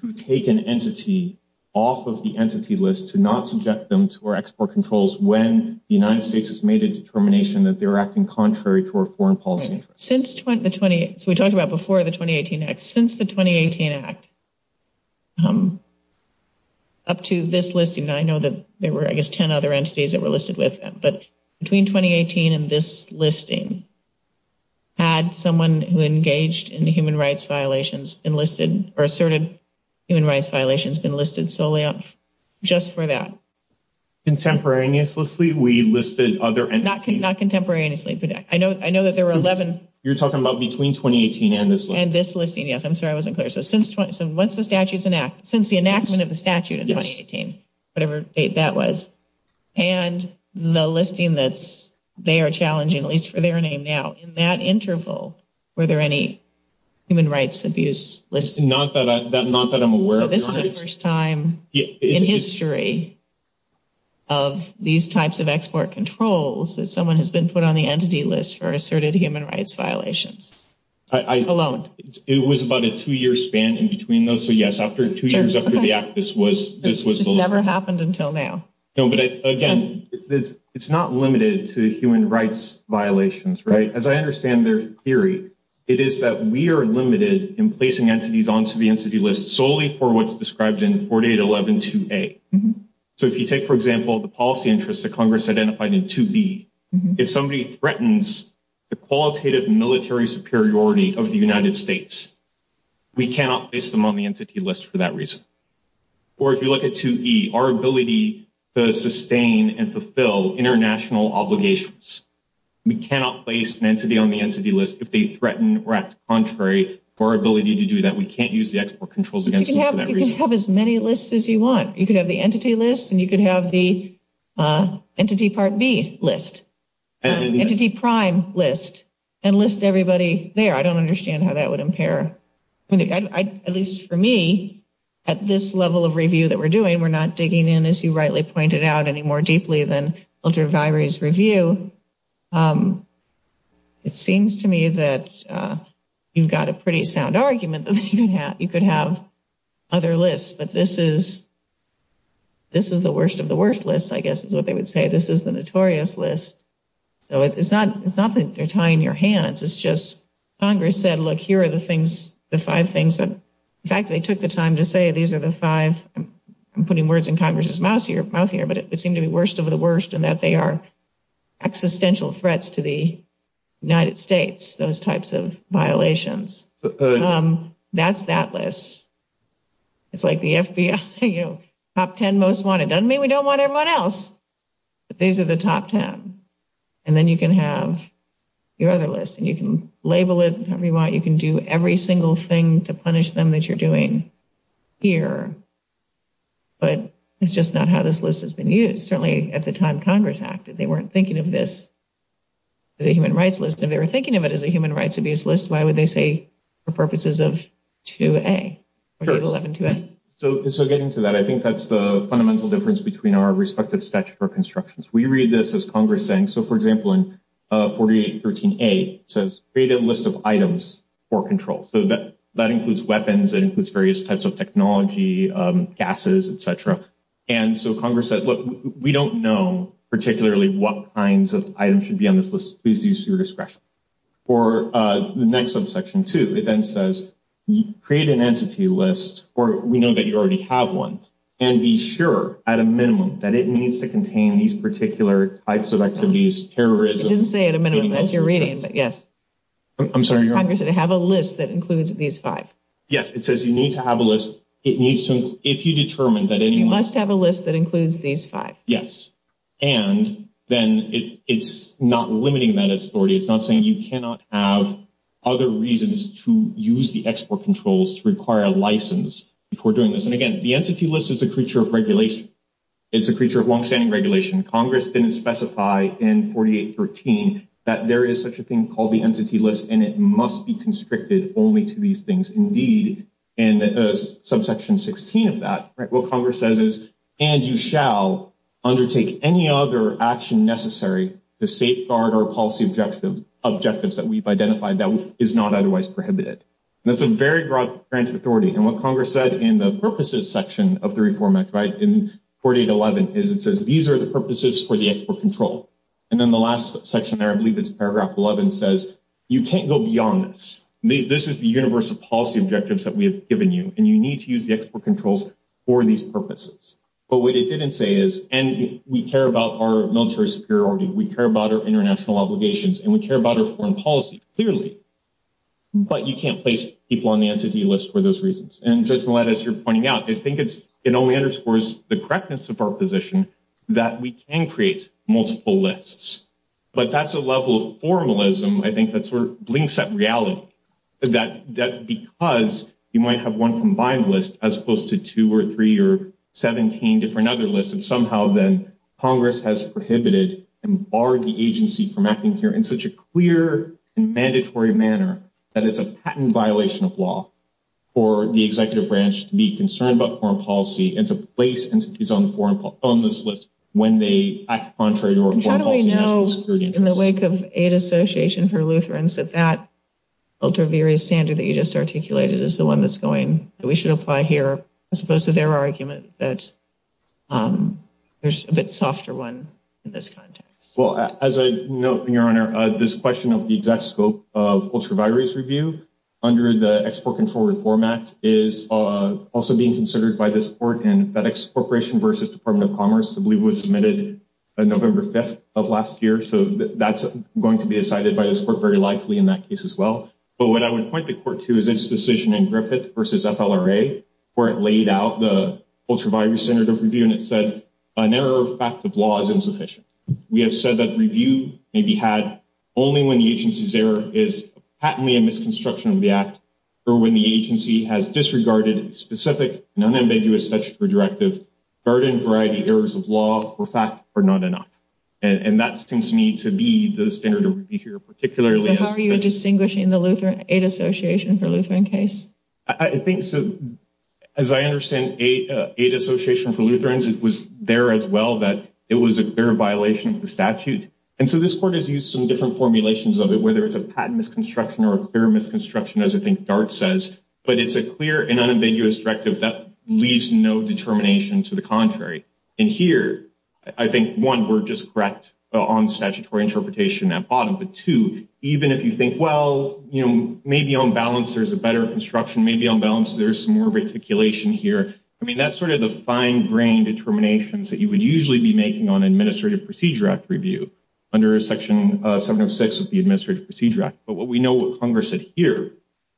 to take an entity off of the entity list to not subject them to our export controls when the United States has made a determination that they're acting contrary to our foreign policy interests. Since the 20, so we talked about before the 2018 Act. Since the 2018 Act, up to this listing, I know that there were, I guess, 10 other entities that were listed with them. But between 2018 and this listing, had someone who engaged in human rights violations been listed or asserted human rights violations been listed solely just for that? Contemporaneously, we listed other entities. Not contemporaneously, but I know that there were 11. You're talking about between 2018 and this listing? And this listing, yes. I'm sorry, I wasn't clear. So since once the statute's enacted, since the enactment of the statute in 2018, whatever date that was, and the listing that's, they are challenging, at least for their name now, in that interval, were there any human rights abuse lists? Not that I'm aware of. This is the first time in history of these types of export controls that someone has been put on the entity list for asserted human rights violations, alone. It was about a two-year span in between those. So yes, after two years after the Act, this was the listing. This never happened until now. No, but again, it's not limited to human rights violations, right? As I understand their theory, it is that we are limited in placing entities onto the entity list solely for what's described in 4811-2A. So if you take, for example, the policy interests that Congress identified in 2B, if somebody threatens the qualitative military superiority of the United States, we cannot place them on the entity list for that reason. Or if you look at 2E, our ability to sustain and fulfill international obligations, we cannot place an entity on the entity list if they threaten or act contrary to our ability to do that. We can't use the export controls against them for that reason. You can have as many lists as you want. You could have the entity list, and you could have the entity part B list, entity prime list, and list everybody there. I don't understand how that would impair, at least for me, at this level of review that we're doing, we're not digging in, as you rightly pointed out, any more deeply than you've got a pretty sound argument that you could have other lists. But this is the worst of the worst list, I guess is what they would say. This is the notorious list. So it's not that they're tying your hands. It's just Congress said, look, here are the things, the five things that, in fact, they took the time to say these are the five, I'm putting words in Congress's mouth here, but it seemed to be worst of the worst in that they are existential threats to the United States, those types of violations. That's that list. It's like the FBI, you know, top 10 most wanted. Doesn't mean we don't want everyone else. But these are the top 10. And then you can have your other list, and you can label it however you want. You can do every single thing to punish them that you're doing here. But it's just not how this list has been used. Certainly at the time Congress acted, they weren't thinking of this as a human rights list. If they were thinking of it as a human rights abuse list, why would they say for purposes of 2A? So getting to that, I think that's the fundamental difference between our respective statutory constructions. We read this as Congress saying, so, for example, in 4813A, it says, create a list of items for control. So that includes weapons. It includes various types of technology, gases, et cetera. And so Congress said, look, we don't know particularly what kinds of items should be on this list. Please use your discretion. For the next subsection 2, it then says, create an entity list, or we know that you already have one. And be sure, at a minimum, that it needs to contain these particular types of activities, terrorism. It didn't say at a minimum. That's your reading, but yes. I'm sorry. Congress said to have a list that includes these five. Yes. It says you need to have a list. It needs to, if you determine that anyone- You must have a list that includes these five. Yes. And then it's not limiting that authority. It's not saying you cannot have other reasons to use the export controls to require a license before doing this. And again, the entity list is a creature of regulation. It's a creature of long-standing regulation. Congress didn't specify in 4813 that there is such a thing called the entity list, and it must be constricted only to these things, indeed, in subsection 16 of that. What Congress says is, and you shall undertake any other action necessary to safeguard our policy objectives that we've identified that is not otherwise prohibited. That's a very broad branch of authority. And what Congress said in the purposes section of the Reform Act, in 4811, is it says these are the purposes for the export control. And then the last section there, I believe it's paragraph 11, says you can't go beyond this. This is the universe of policy objectives that we have given you, and you need to use the export controls for these purposes. But what it didn't say is, and we care about our military superiority, we care about our international obligations, and we care about our foreign policy, clearly, but you can't place people on the entity list for those reasons. And Judge Millett, as you're pointing out, I think it only underscores the correctness of our position that we can create multiple lists. But that's a level of formalism, I think, that sort of blinks at reality, that because you might have one combined list as opposed to two or three or 17 different other lists, and somehow then Congress has prohibited and barred the agency from acting here in such a clear and mandatory manner that it's a patent violation of law for the executive branch to be concerned about foreign policy and to place entities on this list when they act contrary to our foreign policy national security interests. And how do we know, in the wake of aid association for Lutherans, that that ultra-various standard that you just articulated is the one that's going, that we should apply here, as opposed to their argument that there's a bit softer one in this context? Well, as I note, Your Honor, this question of the exact scope of ultra-various review under the Export Control Reform Act is also being considered by this court in FedEx Corporation versus Department of Commerce. I believe it was submitted November 5th of last year. So that's going to be decided by this court very likely in that case as well. But what I would point the court to is its decision in Griffith versus FLRA, where it laid out the ultra-various standard of review, and it said, an error of fact of law is insufficient. We have said that review may be had only when the agency's error is patently a misconstruction of the act or when the agency has disregarded specific and unambiguous statutory directive, burdened variety errors of law or fact are not enough. And that seems to me to be the standard of review here, particularly. How are you distinguishing the Lutheran Aid Association for Lutheran case? I think so. As I understand Aid Association for Lutherans, it was there as well that it was a clear violation of the statute. And so this court has used some different formulations of it, whether it's a patent misconstruction or a clear misconstruction, as I think Dart says. But it's a clear and unambiguous directive that leaves no determination to the contrary. And here, I think, one, we're just correct on statutory interpretation at bottom. But two, even if you think, well, you know, maybe on balance, there's a better construction, maybe on balance, there's some more reticulation here. I mean, that's sort of the fine grained determinations that you would usually be making on Administrative Procedure Act review under Section 706 of the Administrative Procedure Act. But what we know what Congress said here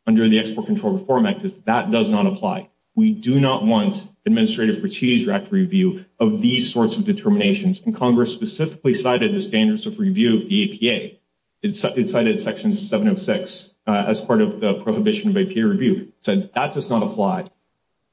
under the Export Control Reform Act is that does not apply. We do not want Administrative Procedure Act review of these sorts of determinations. And Congress specifically cited the standards of review of the APA. It cited Section 706 as part of the prohibition of APA review. So that does not apply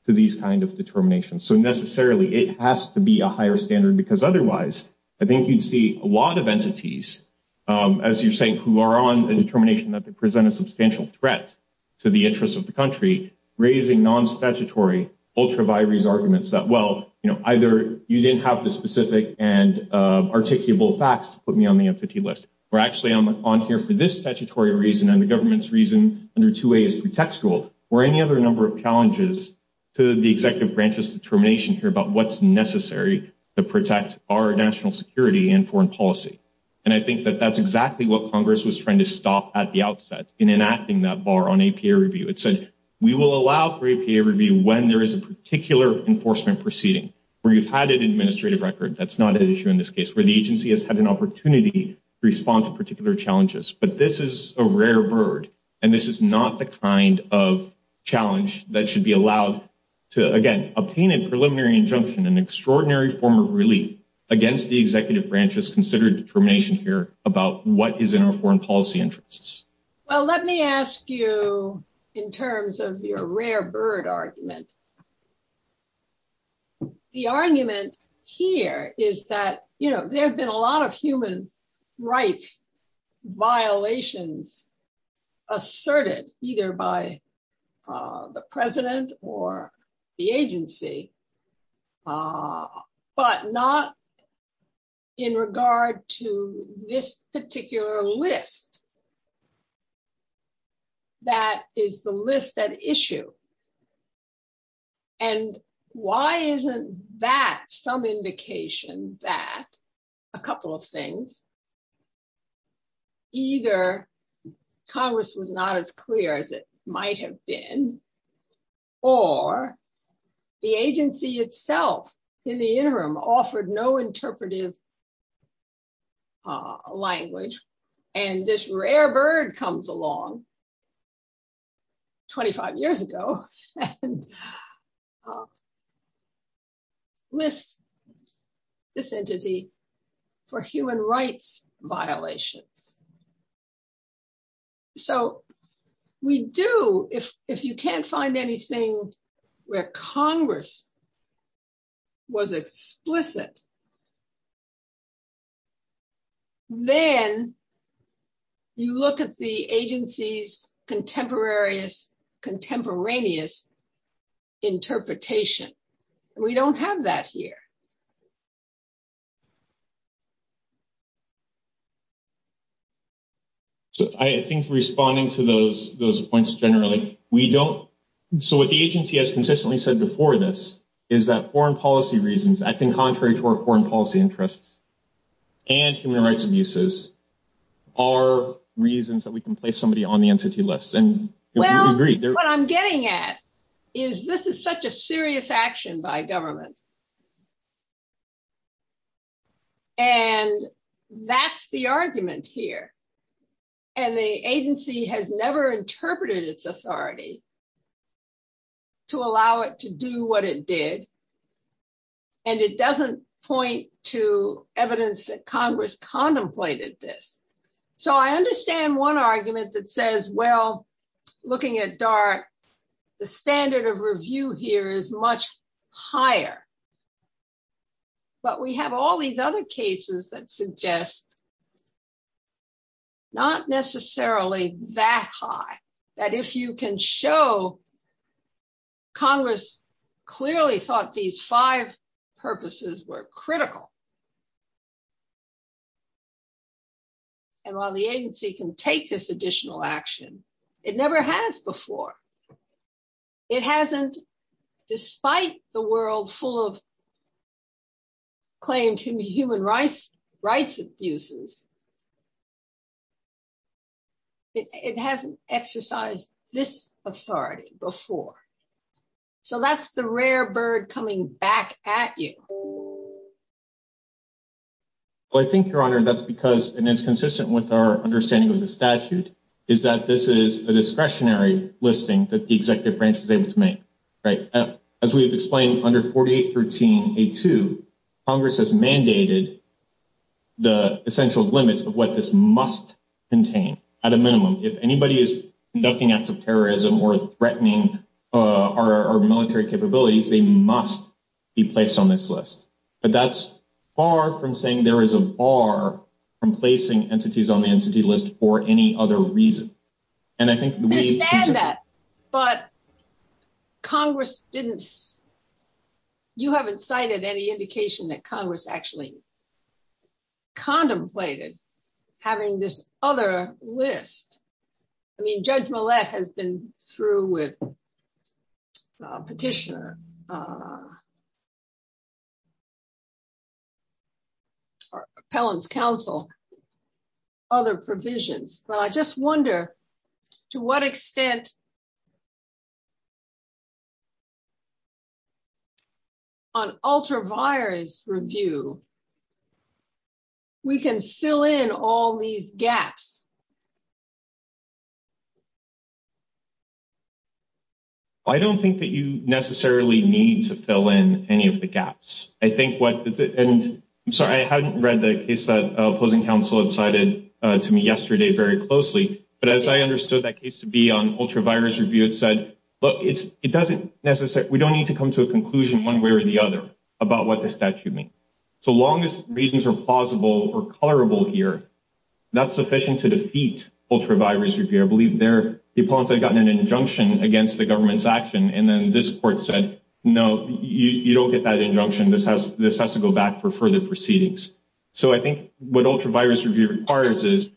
to these kind of determinations. So necessarily, it has to be a higher standard because otherwise, I think you'd see a lot of entities, as you're saying, who are on the determination that they present a substantial threat to the interests of the country, raising non-statutory ultra vires arguments that, you know, either you didn't have the specific and articulable facts to put me on the entity list, or actually, I'm on here for this statutory reason and the government's reason under 2A is pretextual, or any other number of challenges to the executive branch's determination here about what's necessary to protect our national security and foreign policy. And I think that that's exactly what Congress was trying to stop at the outset in enacting that bar on APA review. It said, we will allow for APA review when there is a particular enforcement proceeding where you've had an administrative record. That's not an issue in this case, where the agency has had an opportunity to respond to particular challenges. But this is a rare bird. And this is not the kind of challenge that should be allowed to, again, obtain a preliminary injunction, an extraordinary form of relief against the executive branch's considered determination here about what is in our foreign policy interests. Well, let me ask you, in terms of your rare bird argument, the argument here is that, you know, there have been a lot of human rights violations asserted either by the president or the agency, but not in regard to this particular list that is the list at issue. And why isn't that some indication that a couple of things, either Congress was not as clear as it might have been, or the agency itself in the interim offered no interpretive language, and this rare bird comes along 25 years ago and lists this entity for human rights violations. So we do, if you can't find anything where Congress was explicit, then you look at the agency's contemporaneous interpretation. And we don't have that here. So I think responding to those points generally, we don't, so what the agency has consistently said before this is that foreign policy reasons acting contrary to our foreign policy interests and human rights abuses are reasons that we can place somebody on the entity list. And what I'm getting at is this is such a serious action by government. And that's the argument here. And the agency has never interpreted its authority to allow it to do what it did. And it doesn't point to evidence that Congress contemplated this. So I understand one argument that says, well, looking at DART, the standard of review here is much higher, but we have all these other cases that suggest not necessarily that high, that if you can show Congress clearly thought these five purposes were critical. And while the agency can take this additional action, it never has before. It hasn't, despite the world full of claimed human rights abuses, it hasn't exercised this authority before. So that's the rare bird coming back at you. Well, I think, Your Honor, that's because, and it's consistent with our understanding of the statute, is that this is a discretionary listing that the executive branch was able to make, right? As we've explained under 4813A2, Congress has mandated the essential limits of what this must contain at a minimum. If anybody is conducting acts of terrorism or threatening our military capabilities, they must be placed on this list. But that's far from saying there is a bar from placing entities on the entity list for any other reason. And I think we understand that, but Congress didn't, you haven't cited any indication that Congress actually contemplated having this other list. I mean, Judge Millett has been through with Petitioner, or Appellant's counsel, other provisions. But I just wonder to what extent, on ultravirus review, we can fill in all these gaps? I don't think that you necessarily need to fill in any of the gaps. I think what, and I'm sorry, I hadn't read the case that opposing counsel had cited to me yesterday very closely. But as I understood that case to be on ultravirus review, it said, look, it doesn't necessarily, we don't need to come to a conclusion one way or the other about what the statute means. So long as reasons are plausible or colorable here, that's sufficient to defeat ultravirus review. I believe there, the appellants had gotten an injunction against the government's action, and then this court said, no, you don't get that injunction. This has to go back for further proceedings. So I think what ultravirus review requires is,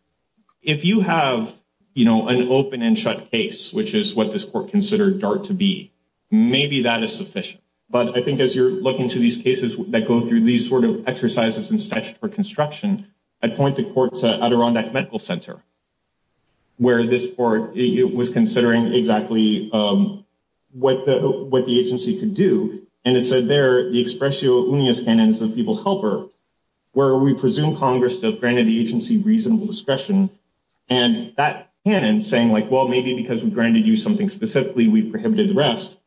if you have an open and shut case, which is what this court considered DART to be, maybe that is sufficient. But I think as you're looking to these cases that go through these sort of exercises in statute for construction, I'd point the court to Adirondack Medical Center, where this court was considering exactly what the agency could do. And it said there, the expressio unius canon is the people helper, where we presume Congress has granted the agency reasonable discretion. And that canon saying like, well, maybe because we granted you something specifically, we've prohibited the rest,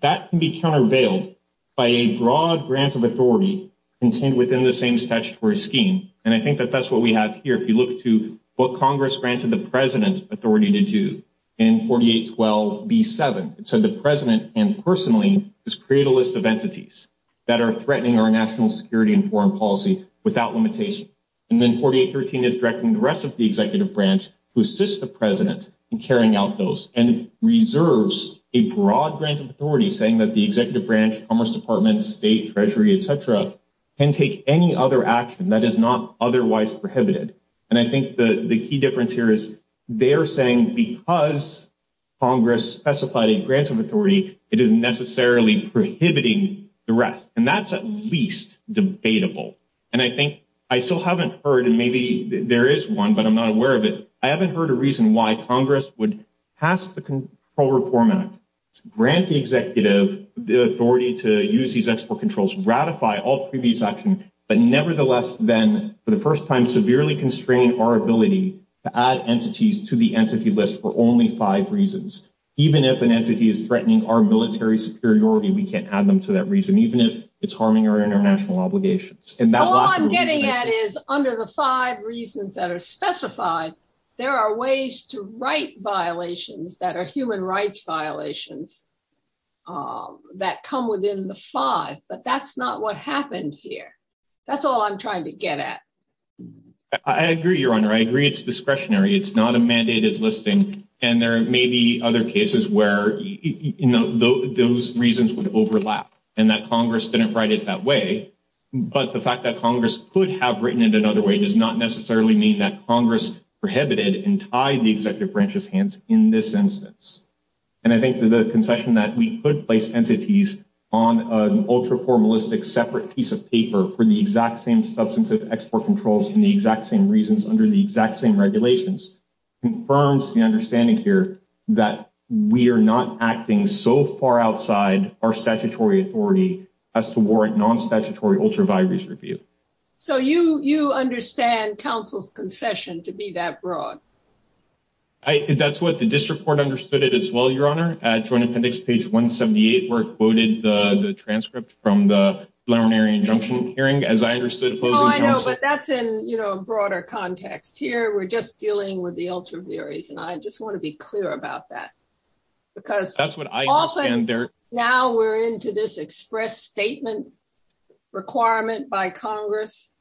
that can be countervailed by a broad grant of authority contained within the same statutory scheme. And I think that that's what we have here. If you look to what Congress granted the president authority to do in 4812B7, it said the president and personally create a list of entities that are threatening our national security and foreign policy without limitation. And then 4813 is directing the rest of the executive branch to assist the president in carrying out those and reserves a broad grant of authority saying that the executive branch, Commerce Department, State, Treasury, et cetera, can take any other action that is not otherwise prohibited. And I think the key difference here is they're saying because Congress specified a grant of authority, it is necessarily prohibiting the rest. And that's at least debatable. And I think I still haven't heard, and maybe there is one, but I'm not aware of it. I haven't heard a reason why Congress would pass the Control Reform Act to grant the executive the authority to use these export controls, ratify all previous action, but nevertheless, then for the first time, severely constrain our ability to add entities to the entity list for only five reasons. Even if an entity is threatening our military superiority, we can't add them to that reason, even if it's harming our international obligations. And that's all I'm getting at is under the five reasons that are specified, there are ways to write violations that are human rights violations that come within the five, but that's not what happened here. That's all I'm trying to get at. I agree, Your Honor. I agree it's discretionary. It's not a mandated listing. And there may be other cases where, you know, those reasons would overlap and that Congress didn't write it that way. But the fact that Congress could have written it another way does not necessarily mean that Congress prohibited and tied the executive branch's hands in this instance. And I think the concession that we could place entities on an ultra-formalistic separate piece of paper for the exact same substantive export controls and the exact same reasons under the exact same regulations confirms the understanding here that we are not acting so far outside our statutory authority as to warrant non-statutory ultra-valuaries review. So you understand counsel's concession to be that broad? That's what the district court understood it as well, Your Honor. Joint Appendix page 178 where it quoted the transcript from the preliminary injunction hearing as I understood it. I know, but that's in a broader context. Here, we're just dealing with the ultra-valuaries. And I just want to be clear about that because often now we're into this express statement requirement by Congress.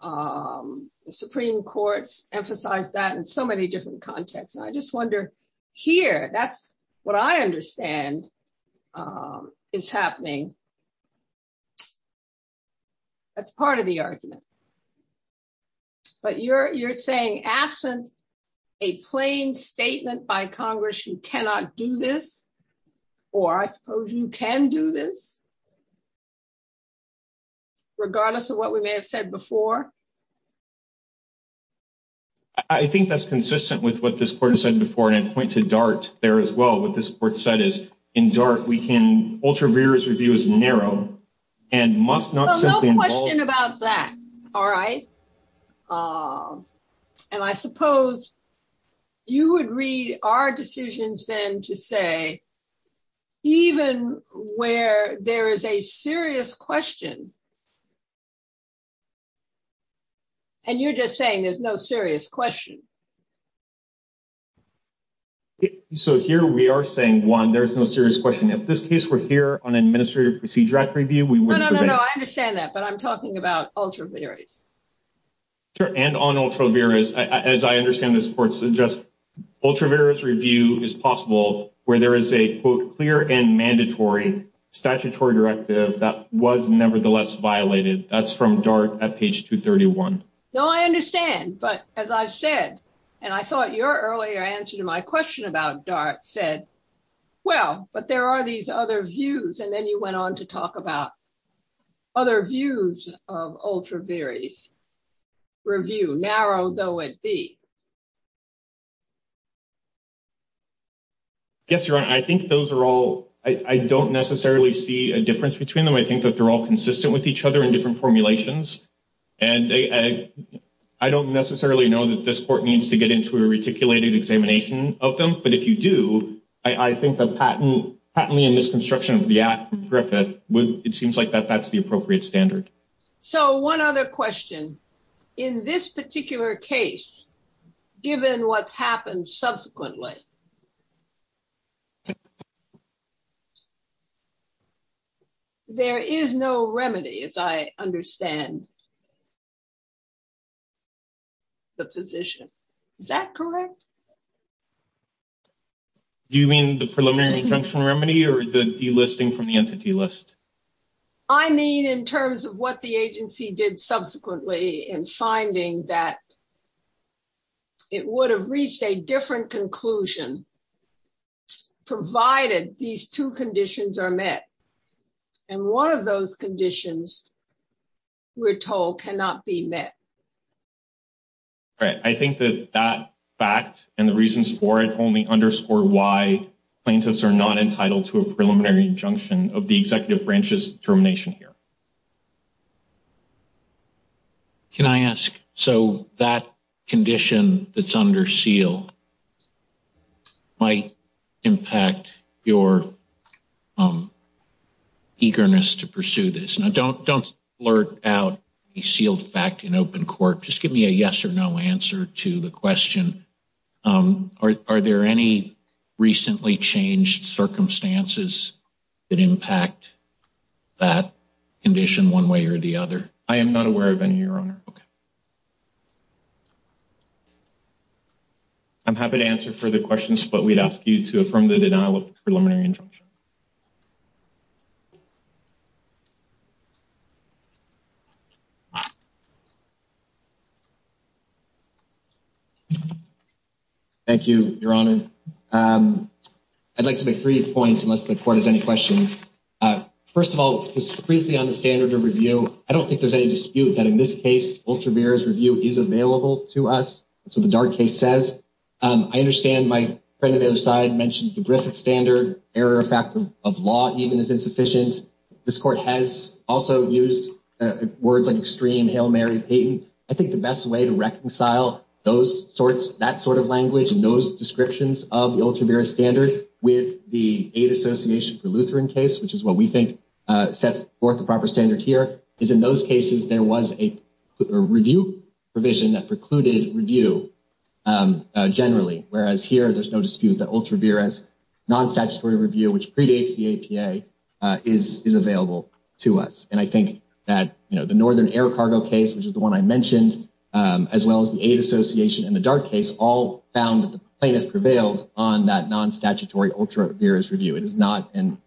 The Supreme Court's emphasized that in so many different contexts. And I just wonder here, that's what I understand is happening. That's part of the argument. But you're saying absent a plain statement by Congress, you cannot do this? Or I suppose you can do this? Regardless of what we may have said before? I think that's consistent with what this court has said before. And I point to DART there as well. What this court said is, in DART, we can ultra-valuaries review as long as we narrow and must not simply involve... So no question about that. All right. And I suppose you would read our decisions then to say, even where there is a serious question. And you're just saying there's no serious question. So here we are saying, one, there's no serious question. If this case were here on Administrative Procedure Act review, we wouldn't... No, no, no. I understand that. But I'm talking about ultra-varies. Sure. And on ultra-varies, as I understand this court suggests, ultra-varies review is possible where there is a clear and mandatory statutory directive that was nevertheless violated. That's from DART at page 231. No, I understand. But as I've said, and I thought your earlier answer to my question about DART said, well, but there are these other views. And then you went on to talk about other views of ultra-varies review, narrow though it be. Yes, Your Honor. I think those are all... I don't necessarily see a difference between them. I think that they're all consistent with each other in different formulations. And I don't necessarily know that this court needs to get into a reticulated examination of them. But if you do, I think that patently in this construction of the act, Griffith, it seems like that that's the appropriate standard. So one other question. In this particular case, given what's happened subsequently, there is no remedy, as I understand the position. Is that correct? Do you mean the preliminary injunction remedy or the delisting from the entity list? I mean, in terms of what the agency did subsequently in finding that it would have reached a different conclusion provided these two conditions are met. And one of those conditions we're told cannot be met. All right. I think that that fact and the reasons for it only underscore why plaintiffs are not entitled to a preliminary injunction of the executive branch's termination here. Can I ask? So that condition that's under seal might impact your eagerness to pursue this. Don't flirt out a sealed fact in open court. Just give me a yes or no answer to the question. Are there any recently changed circumstances that impact that condition one way or the other? I am not aware of any, Your Honor. I'm happy to answer further questions, but we'd ask you to affirm the denial of the preliminary injunction. Thank you, Your Honor. I'd like to make three points, unless the court has any questions. First of all, just briefly on the standard of review. I don't think there's any dispute that in this case, UltraMirror's review is available to us. That's what the Dart case says. I understand my friend on the other side mentions the Griffith standard, This court has also said that it's not going to be able to do that. Used words like extreme, hail Mary Payton. I think the best way to reconcile that sort of language and those descriptions of the UltraMirror standard with the Aid Association for Lutheran case, which is what we think sets forth the proper standard here, is in those cases, there was a review provision that precluded review generally. Whereas here, there's no dispute that UltraMirror's non-statutory review, which predates the APA, is available to us. I think that the Northern Air Cargo case, which is the one I mentioned, as well as the Aid Association and the Dart case, all found that the plaintiff prevailed on that non-statutory UltraMirror's review. It is not an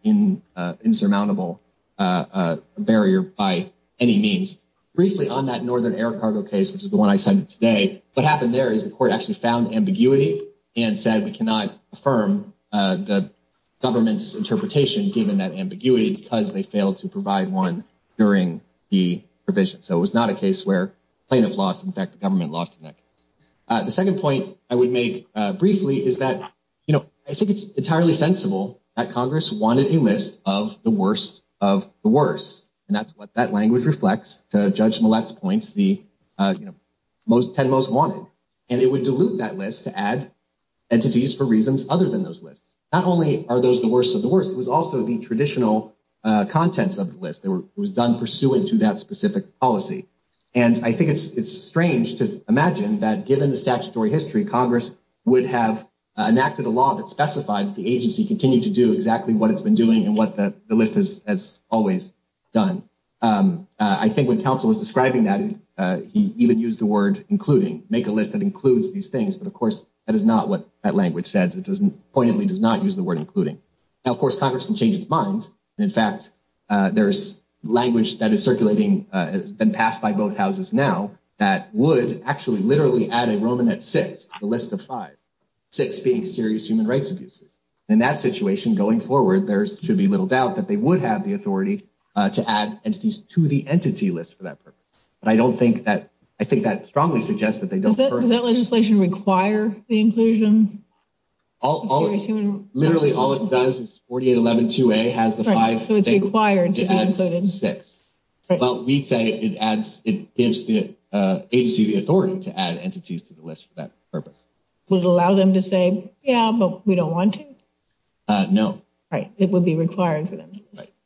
insurmountable barrier by any means. Briefly on that Northern Air Cargo case, which is the one I cited today, what happened there is the court actually found ambiguity and said, we cannot affirm the government's interpretation given that ambiguity because they failed to provide one during the provision. So it was not a case where plaintiff lost. In fact, the government lost in that case. The second point I would make briefly is that, you know, I think it's entirely sensible that Congress wanted a list of the worst of the worst. And that's what that language reflects to Judge Millett's points, the, you know, 10 most wanted. And it would dilute that list to add entities for reasons other than those lists. Not only are those the worst of the worst, it was also the traditional contents of the list. It was done pursuant to that specific policy. And I think it's strange to imagine that given the statutory history, Congress would have enacted a law that specified the agency continued to do exactly what it's been doing and what the list has always done. I think when counsel was describing that, he even used the word including, make a list that includes these things. But of course, that is not what that language says. It doesn't, poignantly does not use the word including. Now, of course, Congress can change its mind. In fact, there's language that is circulating. It's been passed by both houses now that would actually literally add a Roman at six, the list of five, six being serious human rights abuses. In that situation, going forward, there should be little doubt that they would have the authority to add entities to the entity list for that purpose. But I don't think that, I think that strongly suggests that they don't. Does that legislation require the inclusion? All, literally all it does is 4811-2A has the five, it adds six. Well, we'd say it adds, it gives the agency the authority to add entities to the list for that purpose. Would it allow them to say, yeah, but we don't want to? No. Right. It would be required for them.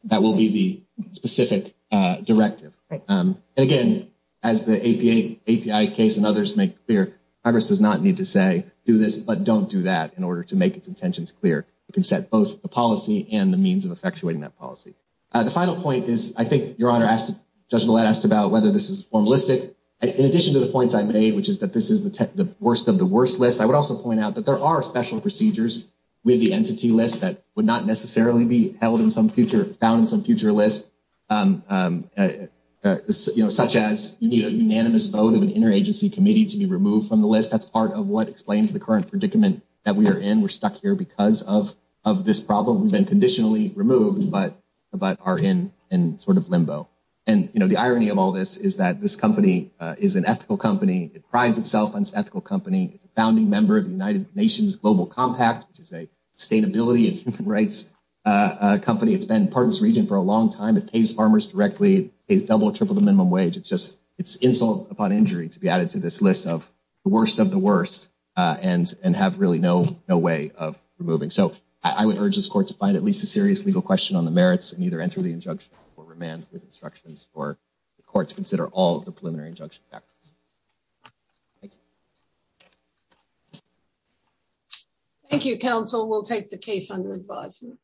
That will be the specific directive. And again, as the API case and others make clear, Congress does not need to say, do this, but don't do that in order to make its intentions clear. You can set both the policy and the means of effectuating that policy. The final point is, I think your Honor asked, Judge Millett asked about whether this is formalistic. In addition to the points I made, which is that this is the worst of the worst list, I would also point out that there are special procedures with the entity list that would not necessarily be held in some future, found in some future list, such as you need a unanimous vote of an interagency committee to be removed from the list. That's part of what explains the current predicament that we are in. We're stuck here because of this problem. We've been conditionally removed, but are in sort of limbo. And the irony of all this is that this company is an ethical company. It prides itself on its ethical company. It's a founding member of the United Nations Global Compact, which is a sustainability and human rights company. It's been part of this region for a long time. It pays farmers directly. It pays double or triple the minimum wage. It's insult upon injury to be added to this list of the worst of the worst and have really no way of removing. So I would urge this court to find at least a serious legal question on the merits and either enter the injunction or remand with instructions for the court to consider all of the preliminary injunction factors. Thank you. Thank you, counsel. We'll take the case under advisement.